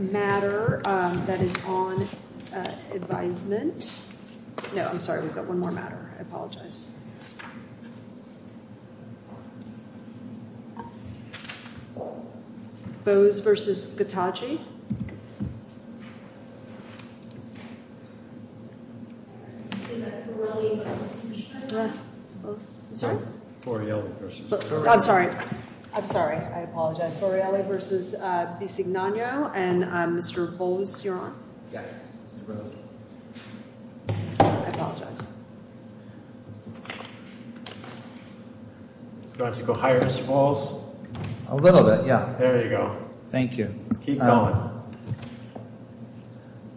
that is on advisement. No, I'm sorry, we've got one more matter. I apologize. I'm sorry. I'm sorry. I apologize. Borelli v. Bisignano and Mr. Bose, you're on. Yes. I apologize. Why don't you go higher, Mr. Bose? A little bit, yeah. There you go. Thank you. Keep going.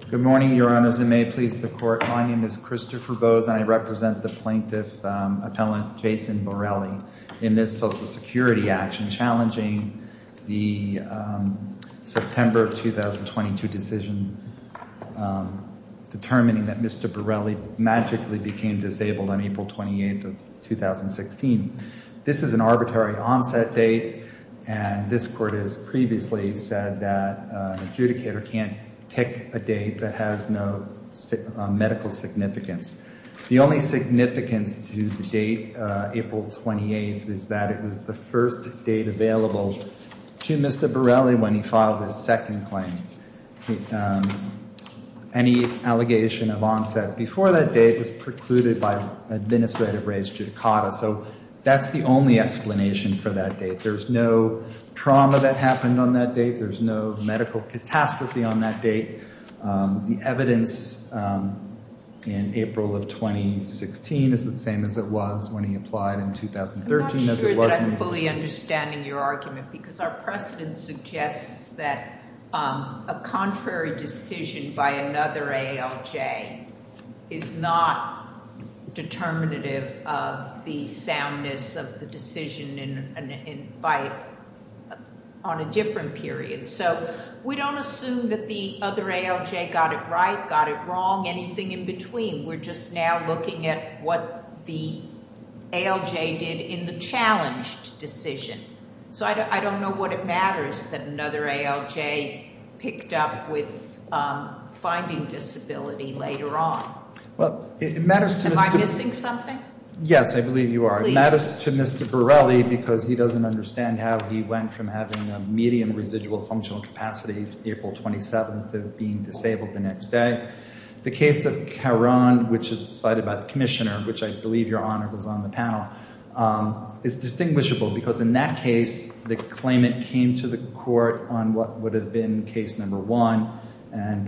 Good morning, Your Honors, and may it please the Court. My name is Christopher Bose, and I represent the plaintiff, Appellant Jason Borelli, in this Social Security action challenging the September of 2022 decision determining that Mr. Borelli magically became disabled on April 28th of 2016. This is an arbitrary onset date, and this Court has previously said that an adjudicator can't pick a date that has no medical significance. The only significance to the date, April 28th, is that it was the first date available to Mr. Borelli when he filed his second claim. Any allegation of onset before that date was precluded by administrative-raised judicata, so that's the only explanation for that date. There's no trauma that happened on that date. There's no medical catastrophe on that date. The evidence in April of 2016 is the same as it was when he applied in 2013. I'm not sure that I'm fully understanding your argument, because our precedent suggests that a contrary decision by another ALJ is not determinative of the soundness of the decision on a different period. So we don't assume that the other ALJ got it right, got it wrong, anything in between. We're just now looking at what the ALJ did in the challenged decision. So I don't know what it matters that another ALJ picked up with finding disability later on. Am I missing something? Yes, I believe you are. And that is to Mr. Borelli, because he doesn't understand how he went from having a medium residual functional capacity April 27th of being disabled the next day. The case of Caron, which is decided by the Commissioner, which I believe, Your Honor, was on the panel, is distinguishable, because in that case, the claimant came to the court on what would have been case number one and,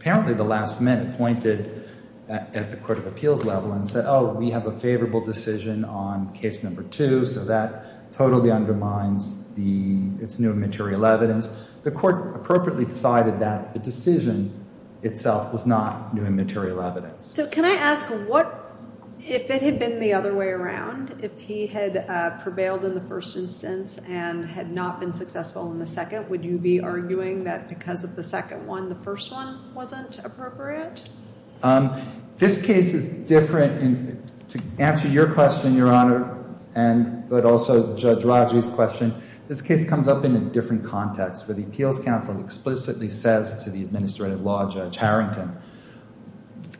apparently, the last minute pointed at the court of appeals level and said, oh, we have a favorable decision on case number two, so that totally undermines its new immaterial evidence. The court appropriately decided that the decision itself was not new immaterial evidence. So can I ask, if it had been the other way around, if he had prevailed in the first instance and had not been successful in the second, would you be arguing that because of the second one, the first one wasn't appropriate? This case is different, and to answer your question, Your Honor, but also Judge Rodgers' question, this case comes up in a different context, where the appeals counsel explicitly says to the administrative law judge Harrington,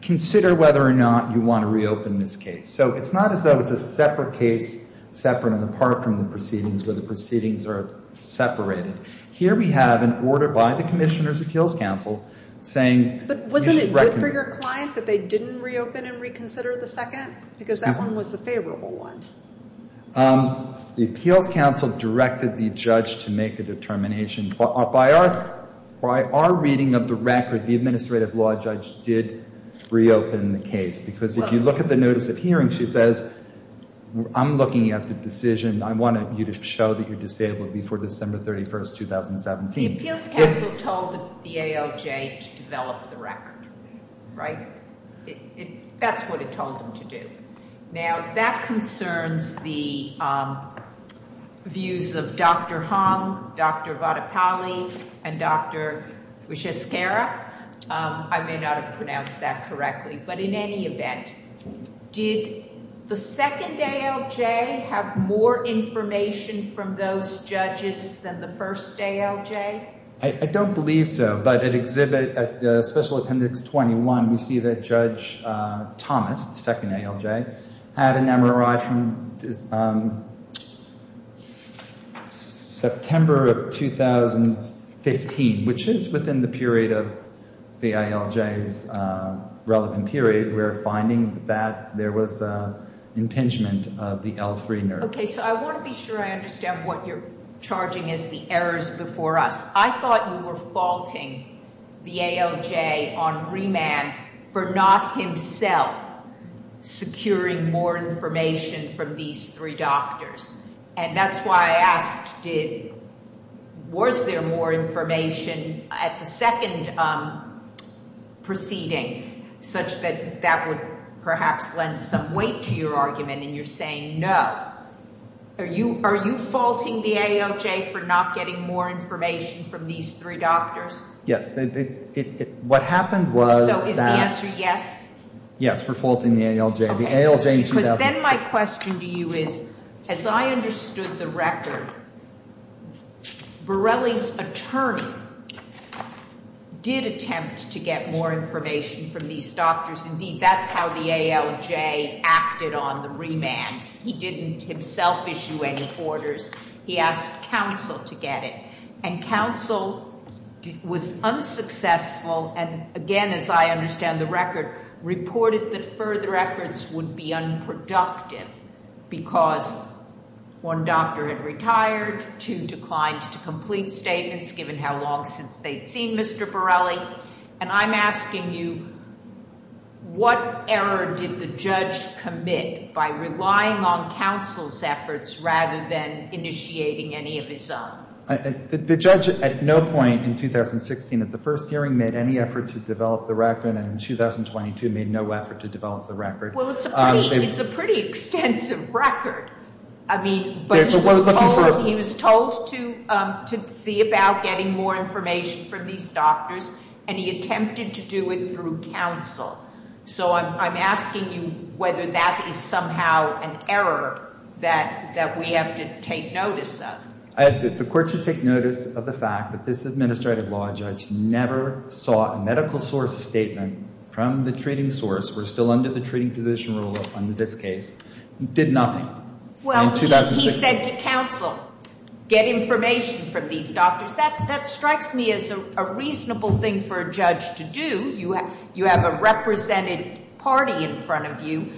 consider whether or not you want to reopen this case. So it's not as though it's a separate case, separate and apart from the proceedings, where the proceedings are separated. Here we have an order by the Commissioner's appeals counsel saying... But wasn't it good for your client that they didn't reopen and reconsider the second? Because that one was the favorable one. The appeals counsel directed the judge to make a determination. By our reading of the record, the administrative law judge did reopen the case. Because if you look at the notice of hearing, she says, I'm looking at the decision. I wanted you to show that you're disabled before December 31, 2017. The appeals counsel told the ALJ to develop the record, right? That's what it told them to do. Now, that concerns the views of Dr. Hong, Dr. Vatapalli, and Dr. Ushaskera. I may not have pronounced that correctly. But in any event, did the second ALJ have more information from those judges than the first ALJ? I don't believe so. But at Special Appendix 21, we see that Judge Thomas, the second ALJ, had an MRI from September of 2015, which is within the period of the ALJ's relevant period. We're finding that there was an impingement of the L3 nerve. Okay. So I want to be sure I understand what you're charging as the errors before us. I thought you were faulting the ALJ on remand for not himself securing more information from these three doctors. And that's why I asked, was there more information at the second proceeding, such that that would perhaps lend some weight to your argument? And you're saying no. Are you faulting the ALJ for not getting more information from these three doctors? Yes. What happened was that... So is the answer yes? Yes, we're faulting the ALJ. The ALJ in 2007... I understood the record. Borelli's attorney did attempt to get more information from these doctors. Indeed, that's how the ALJ acted on the remand. He didn't himself issue any orders. He asked counsel to get it. And counsel was unsuccessful and, again, as I understand the record, reported that further efforts would be unproductive because one doctor had retired, two declined to complete statements given how long since they'd seen Mr. Borelli. And I'm asking you, what error did the judge commit by relying on counsel's efforts rather than initiating any of his own? The judge at no point in 2016 at the first hearing made any effort to develop the record, and in 2022 made no effort to develop the record. Well, it's a pretty extensive record. I mean, but he was told to be about getting more information from these doctors, and he attempted to do it through counsel. So I'm asking you whether that is somehow an error that we have to take notice of. The court should take notice of the fact that this administrative law judge never saw a medical source statement from the treating source. We're still under the treating physician rule under this case. Did nothing in 2016. He said to counsel, get information from these doctors. That strikes me as a reasonable thing for a judge to do. You have a represented party in front of you.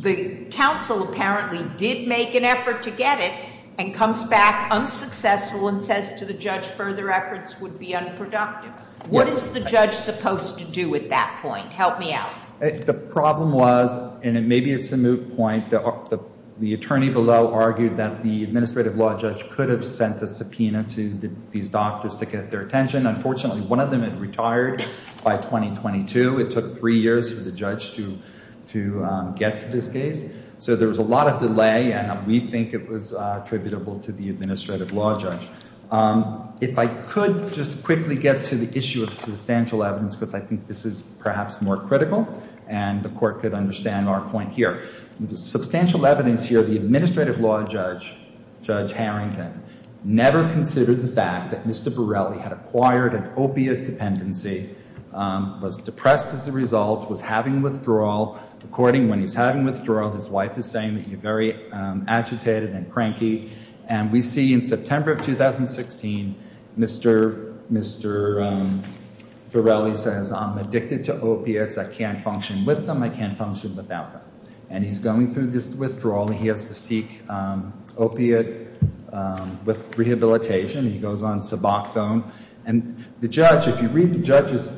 The counsel apparently did make an effort to get it and comes back unsuccessful and says to the judge further efforts would be unproductive. What is the judge supposed to do at that point? Help me out. The problem was, and maybe it's a moot point, the attorney below argued that the administrative law judge could have sent a subpoena to these doctors to get their attention. Unfortunately, one of them had retired by 2022. It took three years for the judge to get to this case. So there was a lot of delay, and we think it was attributable to the administrative law judge. If I could just quickly get to the issue of substantial evidence, because I think this is perhaps more critical, and the court could understand our point here. Substantial evidence here, the administrative law judge, Judge Harrington, never considered the fact that Mr. Borelli had acquired an opiate dependency, was depressed as a result, was having withdrawal. According, when he was having withdrawal, his wife is saying that you're very agitated and cranky. And we see in September of 2016, Mr. Borelli says, I'm addicted to opiates. I can't function with them. I can't function without them. And he's going through this withdrawal, and he has to seek opiate rehabilitation. He goes on Suboxone. And the judge, if you read the judge's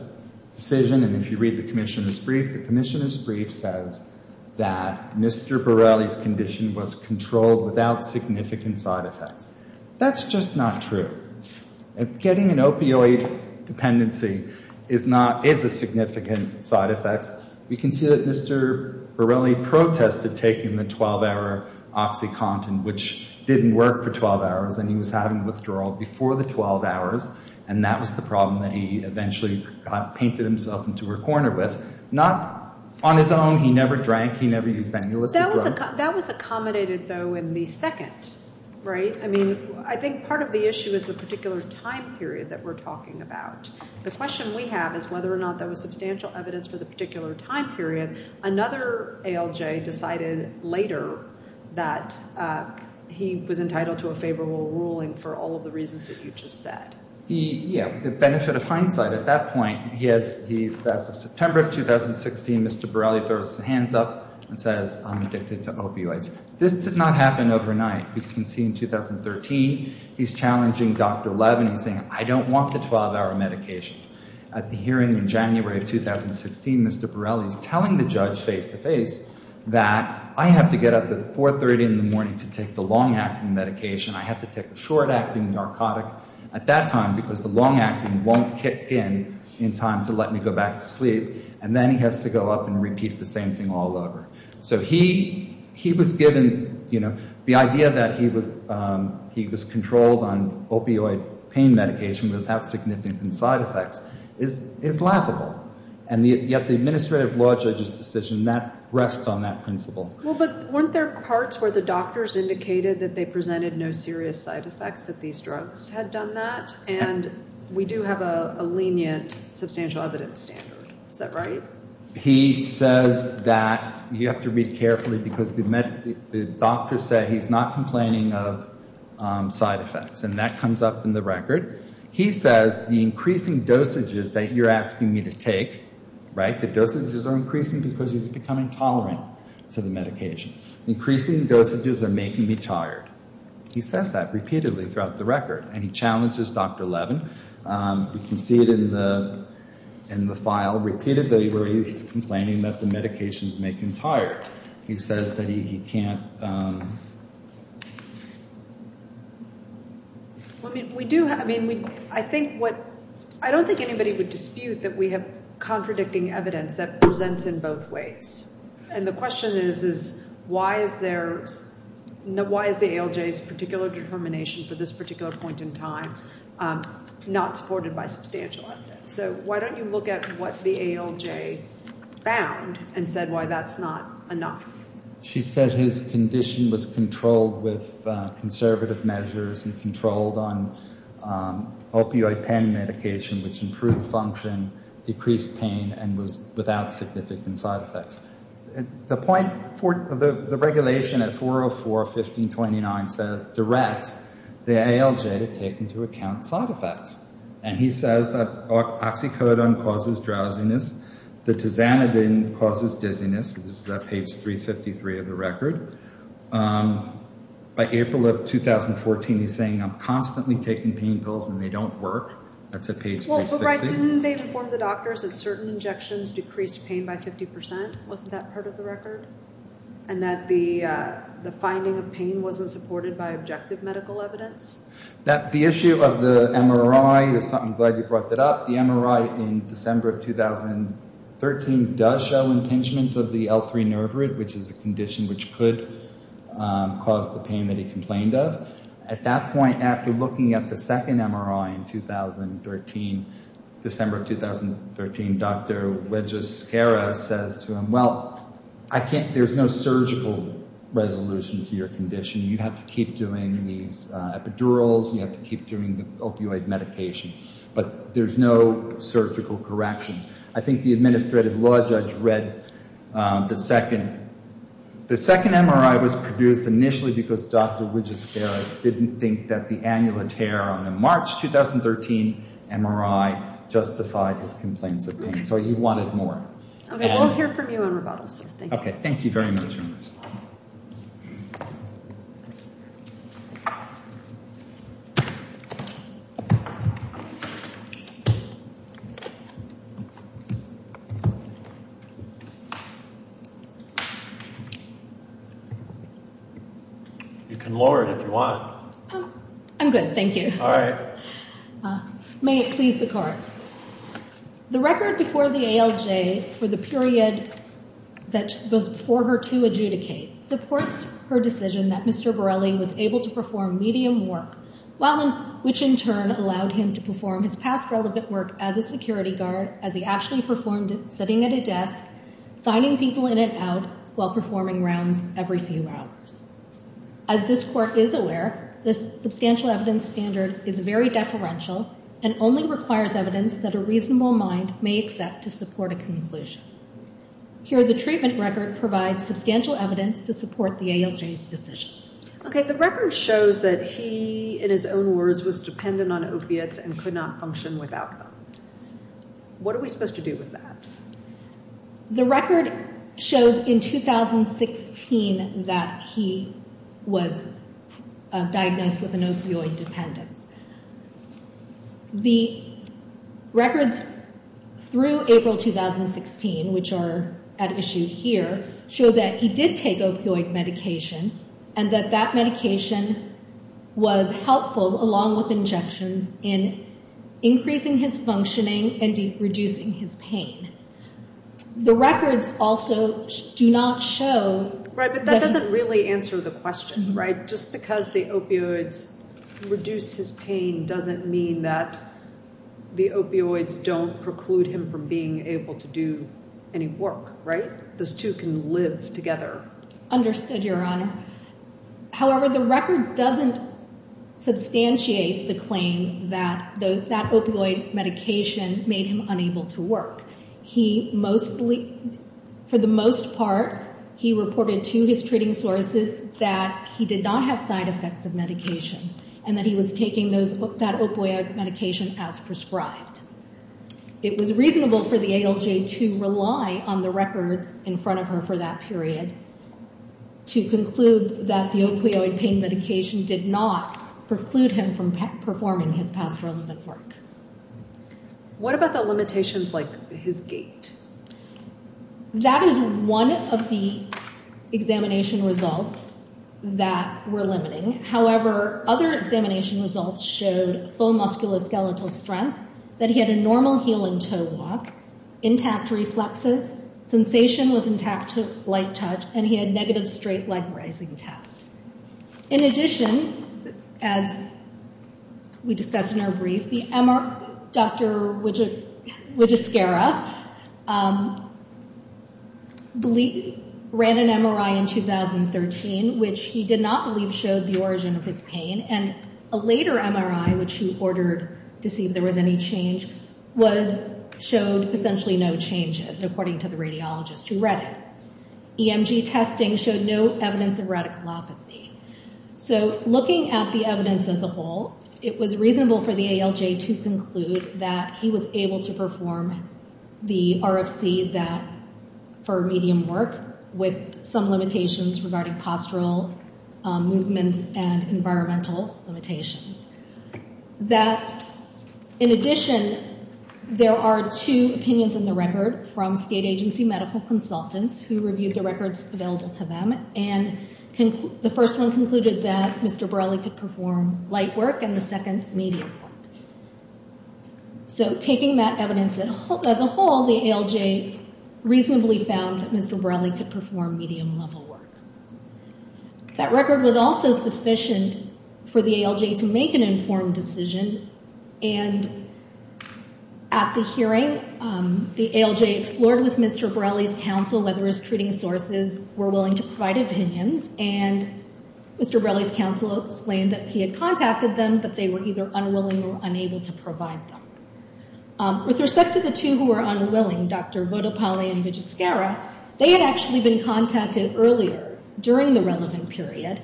decision, and if you read the commissioner's brief, the commissioner's brief says that Mr. Borelli's condition was controlled without significant side effects. That's just not true. Getting an opioid dependency is not, is a significant side effect. We can see that Mr. Borelli protested taking the 12-hour OxyContin, which didn't work for 12 hours, and he was having withdrawal before the 12 hours, and that was the problem that he eventually painted himself into a corner with. Not on his own. He never drank. He never used any illicit drugs. That was accommodated, though, in the second, right? I mean, I think part of the issue is the particular time period that we're talking about. The question we have is whether or not there was substantial evidence for the particular time period. Another ALJ decided later that he was entitled to a favorable ruling for all of the reasons that you just said. The benefit of hindsight at that point, he has, as of September of 2016, Mr. Borelli throws his hands up and says, I'm addicted to opioids. This did not happen overnight. We can see in 2013, he's challenging Dr. Levin. He's saying, I don't want the 12-hour medication. At the hearing in January of 2016, Mr. Borelli is telling the judge face-to-face that I have to get up at 4.30 in the morning to take the long-acting medication. I have to take the short-acting narcotic at that time because the long-acting won't kick in in time to let me go back to sleep, and then he has to go up and repeat the same thing all over. So he was given, you know, the idea that he was controlled on opioid pain medication without significant side effects is laughable. And yet the administrative law judge's decision, that rests on that principle. Well, but weren't there parts where the doctors indicated that they presented no serious side effects, that these drugs had done that? And we do have a lenient substantial evidence standard. Is that right? He says that you have to read carefully because the doctors say he's not complaining of side effects, and that comes up in the record. He says the increasing dosages that you're asking me to take, right, the dosages are increasing because he's becoming tolerant to the medication. Increasing dosages are making me tired. He says that repeatedly throughout the record, and he challenges Dr. Levin. You can see it in the file repeatedly where he's complaining that the medications make him tired. He says that he can't. I don't think anybody would dispute that we have contradicting evidence that presents in both ways. And the question is, why is the ALJ's particular determination for this particular point in time not supported by substantial evidence? So why don't you look at what the ALJ found and said why that's not enough? She said his condition was controlled with conservative measures and controlled on opioid pain medication, which improved function, decreased pain, and was without significant side effects. The regulation at 404.15.29 directs the ALJ to take into account side effects. And he says that oxycodone causes drowsiness. The tizanidine causes dizziness. This is at page 353 of the record. By April of 2014, he's saying I'm constantly taking pain pills and they don't work. That's at page 360. That's right. Didn't they inform the doctors that certain injections decreased pain by 50%? Wasn't that part of the record? And that the finding of pain wasn't supported by objective medical evidence? The issue of the MRI, I'm glad you brought that up. The MRI in December of 2013 does show impingement of the L3 nerve root, which is a condition which could cause the pain that he complained of. But at that point, after looking at the second MRI in 2013, December of 2013, Dr. Wedges-Scarra says to him, well, there's no surgical resolution to your condition. You have to keep doing these epidurals. You have to keep doing the opioid medication. But there's no surgical correction. I think the administrative law judge read the second. The second MRI was produced initially because Dr. Wedges-Scarra didn't think that the annular tear on the March 2013 MRI justified his complaints of pain. So he wanted more. Okay. We'll hear from you on rebuttal, sir. Thank you. Okay. Thank you very much, members. You can lower it if you want. I'm good. Thank you. All right. May it please the Court. The record before the ALJ for the period that was before her to adjudicate supports her decision that Mr. Borrelli was able to perform medium work, which in turn allowed him to perform his past relevant work as a security guard as he actually performed sitting at a desk, signing people in and out, while performing rounds every few hours. As this Court is aware, this substantial evidence standard is very deferential and only requires evidence that a reasonable mind may accept to support a conclusion. Here, the treatment record provides substantial evidence to support the ALJ's decision. Okay. The record shows that he, in his own words, was dependent on opiates and could not function without them. What are we supposed to do with that? The record shows in 2016 that he was diagnosed with an opioid dependence. The records through April 2016, which are at issue here, show that he did take opioid medication and that that medication was helpful, along with injections, in increasing his functioning and reducing his pain. The records also do not show... Right, but that doesn't really answer the question, right? Just because the opioids reduce his pain doesn't mean that the opioids don't preclude him from being able to do any work, right? Those two can live together. Understood, Your Honor. However, the record doesn't substantiate the claim that that opioid medication made him unable to work. For the most part, he reported to his treating sources that he did not have side effects of medication and that he was taking that opioid medication as prescribed. It was reasonable for the ALJ to rely on the records in front of her for that period to conclude that the opioid pain medication did not preclude him from performing his past relevant work. What about the limitations like his gait? That is one of the examination results that we're limiting. However, other examination results showed full musculoskeletal strength, that he had a normal heel and toe walk, intact reflexes, sensation was intact to light touch, and he had negative straight leg rising test. In addition, as we discussed in our brief, Dr. Widjuskera ran an MRI in 2013, which he did not believe showed the origin of his pain, and a later MRI, which he ordered to see if there was any change, showed essentially no change according to the radiologist who read it. EMG testing showed no evidence of radiculopathy. Looking at the evidence as a whole, it was reasonable for the ALJ to conclude that he was able to perform the RFC for medium work with some limitations regarding postural movements and environmental limitations. In addition, there are two opinions in the record from state agency medical consultants who reviewed the records available to them, and the first one concluded that Mr. Borrelli could perform light work and the second, medium work. So taking that evidence as a whole, the ALJ reasonably found that Mr. Borrelli could perform medium level work. That record was also sufficient for the ALJ to make an informed decision, and at the hearing, the ALJ explored with Mr. Borrelli's counsel whether his treating sources were willing to provide opinions, and Mr. Borrelli's counsel explained that he had contacted them, but they were either unwilling or unable to provide them. With respect to the two who were unwilling, Dr. Vodopalli and Vijaskera, they had actually been contacted earlier during the relevant period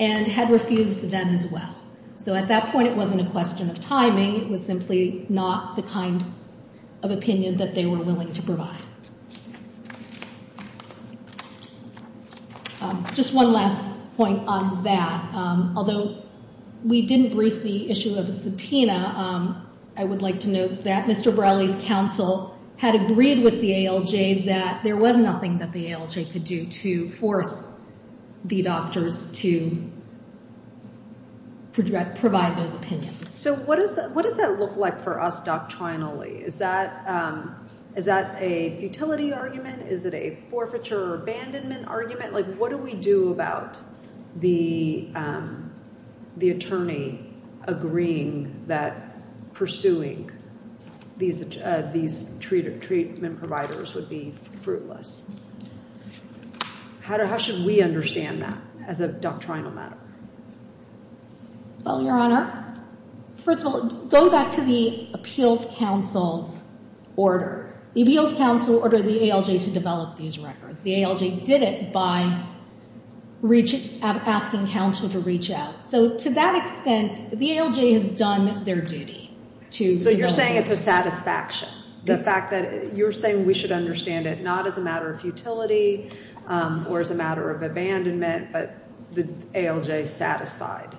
and had refused them as well. So at that point, it wasn't a question of timing. It was simply not the kind of opinion that they were willing to provide. Just one last point on that. Although we didn't brief the issue of the subpoena, I would like to note that Mr. Borrelli's counsel had agreed with the ALJ that there was nothing that the ALJ could do to force the doctors to provide those opinions. So what does that look like for us doctrinally? Is that a futility argument? Is it a forfeiture or abandonment argument? What do we do about the attorney agreeing that pursuing these treatment providers would be fruitless? How should we understand that as a doctrinal matter? Well, Your Honor, first of all, going back to the appeals counsel's order. The appeals counsel ordered the ALJ to develop these records. The ALJ did it by asking counsel to reach out. So to that extent, the ALJ has done their duty. So you're saying it's a satisfaction? The fact that you're saying we should understand it not as a matter of futility or as a matter of abandonment, but the ALJ satisfied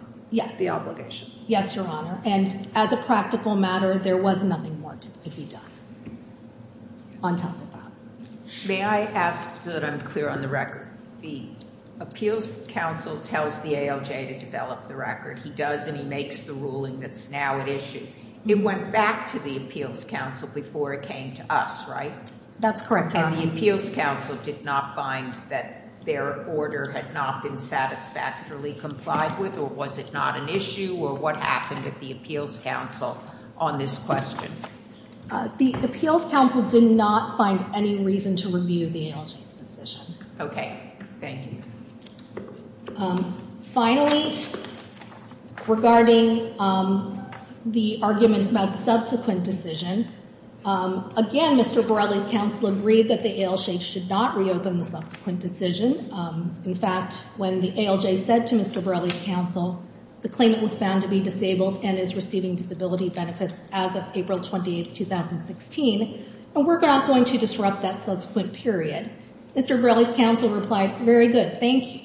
the obligation? Yes, Your Honor. And as a practical matter, there was nothing more that could be done on top of that. May I ask so that I'm clear on the record? The appeals counsel tells the ALJ to develop the record. He does and he makes the ruling that's now at issue. It went back to the appeals counsel before it came to us, right? That's correct, Your Honor. And the appeals counsel did not find that their order had not been satisfactorily complied with? Or was it not an issue? Or what happened at the appeals counsel on this question? The appeals counsel did not find any reason to review the ALJ's decision. Okay. Thank you. Finally, regarding the argument about the subsequent decision, again, Mr. Borrelli's counsel agreed that the ALJ should not reopen the subsequent decision. In fact, when the ALJ said to Mr. Borrelli's counsel, the claimant was found to be disabled and is receiving disability benefits as of April 28, 2016, and we're not going to disrupt that subsequent period. Mr. Borrelli's counsel replied, very good, thank you,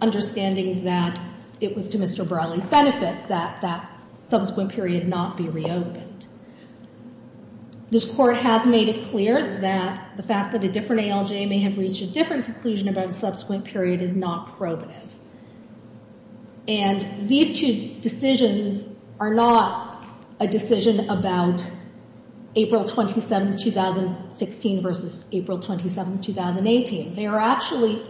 understanding that it was to Mr. Borrelli's benefit that that subsequent period not be reopened. This court has made it clear that the fact that a different ALJ may have reached a different conclusion about a subsequent period is not probative. And these two decisions are not a decision about April 27, 2016 versus April 27, 2018. They are actually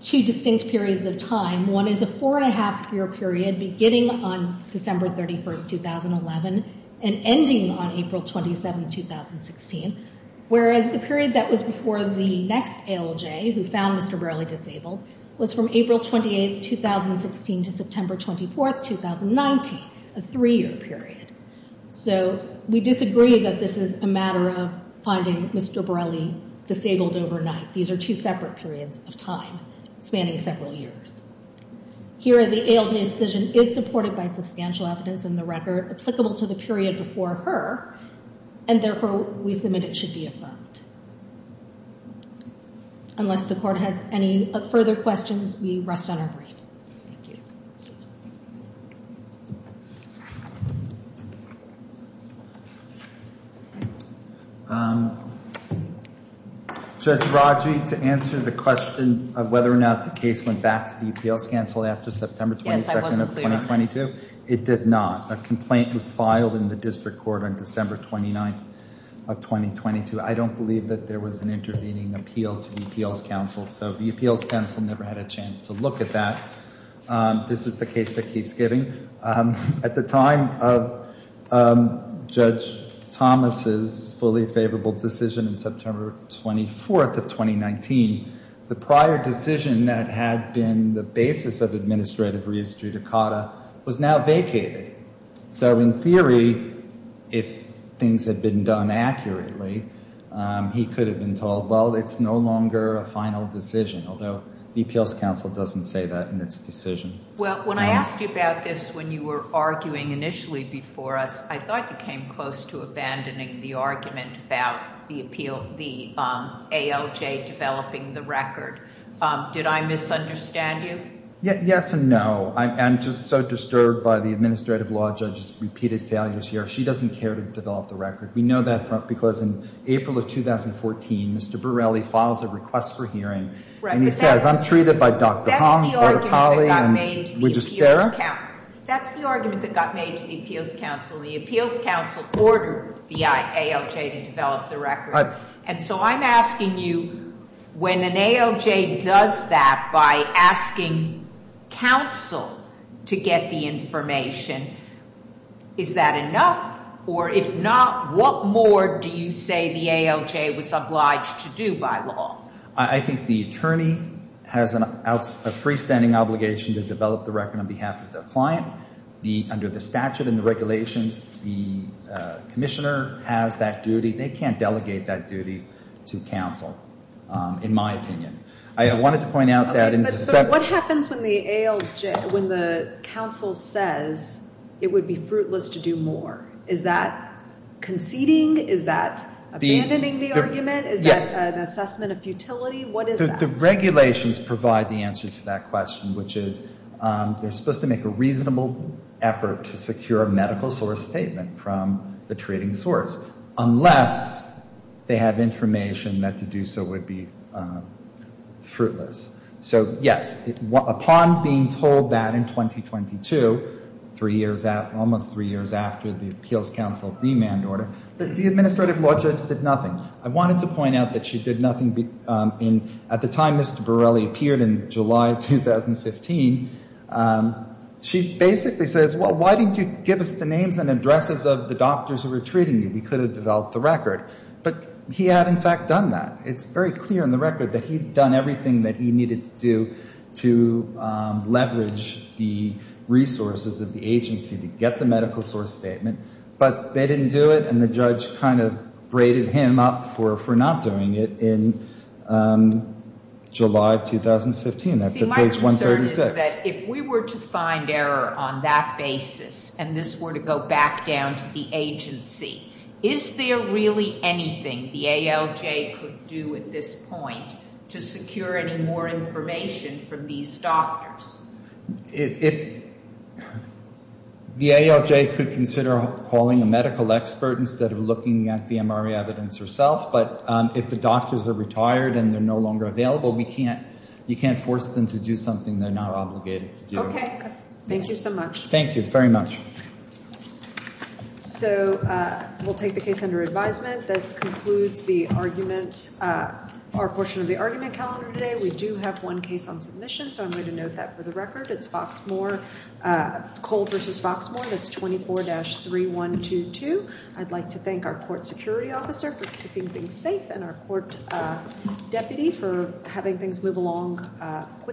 two distinct periods of time. One is a four-and-a-half-year period beginning on December 31, 2011 and ending on April 27, 2016, whereas the period that was before the next ALJ who found Mr. Borrelli disabled was from April 28, 2016 to September 24, 2019, a three-year period. So we disagree that this is a matter of finding Mr. Borrelli disabled overnight. These are two separate periods of time spanning several years. Here, the ALJ's decision is supported by substantial evidence in the record applicable to the period before her, and therefore we submit it should be affirmed. Unless the court has any further questions, we rest on our breath. Thank you. Judge Raji, to answer the question of whether or not the case went back to the UPL's counsel after September 22, 2022, it did not. A complaint was filed in the district court on December 29, 2022. I don't believe that there was an intervening appeal to UPL's counsel, so UPL's counsel never had a chance to look at that. This is the case that keeps giving. At the time of Judge Thomas's fully favorable decision on September 24, 2019, the prior decision that had been the basis of administrative res judicata was now vacated. So in theory, if things had been done accurately, he could have been told, well, it's no longer a final decision, although UPL's counsel doesn't say that in its decision. Well, when I asked you about this when you were arguing initially before us, I thought you came close to abandoning the argument about the ALJ developing the record. Did I misunderstand you? Yes and no. I'm just so disturbed by the administrative law judge's repeated failures here. She doesn't care to develop the record. We know that because in April of 2014, Mr. Borrelli files a request for hearing. And he says, I'm treated by Dr. Hong, Florida Poly, and Widgesterra. That's the argument that got made to the appeals counsel. The appeals counsel ordered the ALJ to develop the record. And so I'm asking you, when an ALJ does that by asking counsel to get the information, is that enough? Or if not, what more do you say the ALJ was obliged to do by law? I think the attorney has a freestanding obligation to develop the record on behalf of the client. Under the statute and the regulations, the commissioner has that duty. They can't delegate that duty to counsel, in my opinion. I wanted to point out that— So what happens when the ALJ, when the counsel says it would be fruitless to do more? Is that conceding? Is that abandoning the argument? Is that an assessment of futility? What is that? The regulations provide the answer to that question, which is they're supposed to make a reasonable effort to secure a medical source statement from the treating source, unless they have information that to do so would be fruitless. So, yes, upon being told that in 2022, almost three years after the appeals counsel remand order, the administrative law judge did nothing. I wanted to point out that she did nothing. At the time Mr. Borrelli appeared in July of 2015, she basically says, well, why didn't you give us the names and addresses of the doctors who were treating you? We could have developed the record. But he had, in fact, done that. It's very clear in the record that he had done everything that he needed to do to leverage the resources of the agency to get the medical source statement. But they didn't do it. And the judge kind of braided him up for not doing it in July of 2015. That's at page 136. See, my concern is that if we were to find error on that basis and this were to go back down to the agency, is there really anything the ALJ could do at this point to secure any more information from these doctors? If the ALJ could consider calling a medical expert instead of looking at the MRI evidence herself. But if the doctors are retired and they're no longer available, we can't, you can't force them to do something they're not obligated to do. Okay. Thank you so much. Thank you very much. So we'll take the case under advisement. This concludes the argument, our portion of the argument calendar today. We do have one case on submission. So I'm going to note that for the record. It's Foxmore, Cole versus Foxmore. That's 24-3122. I'd like to thank our court security officer for keeping things safe and our court deputy for having things move along quickly.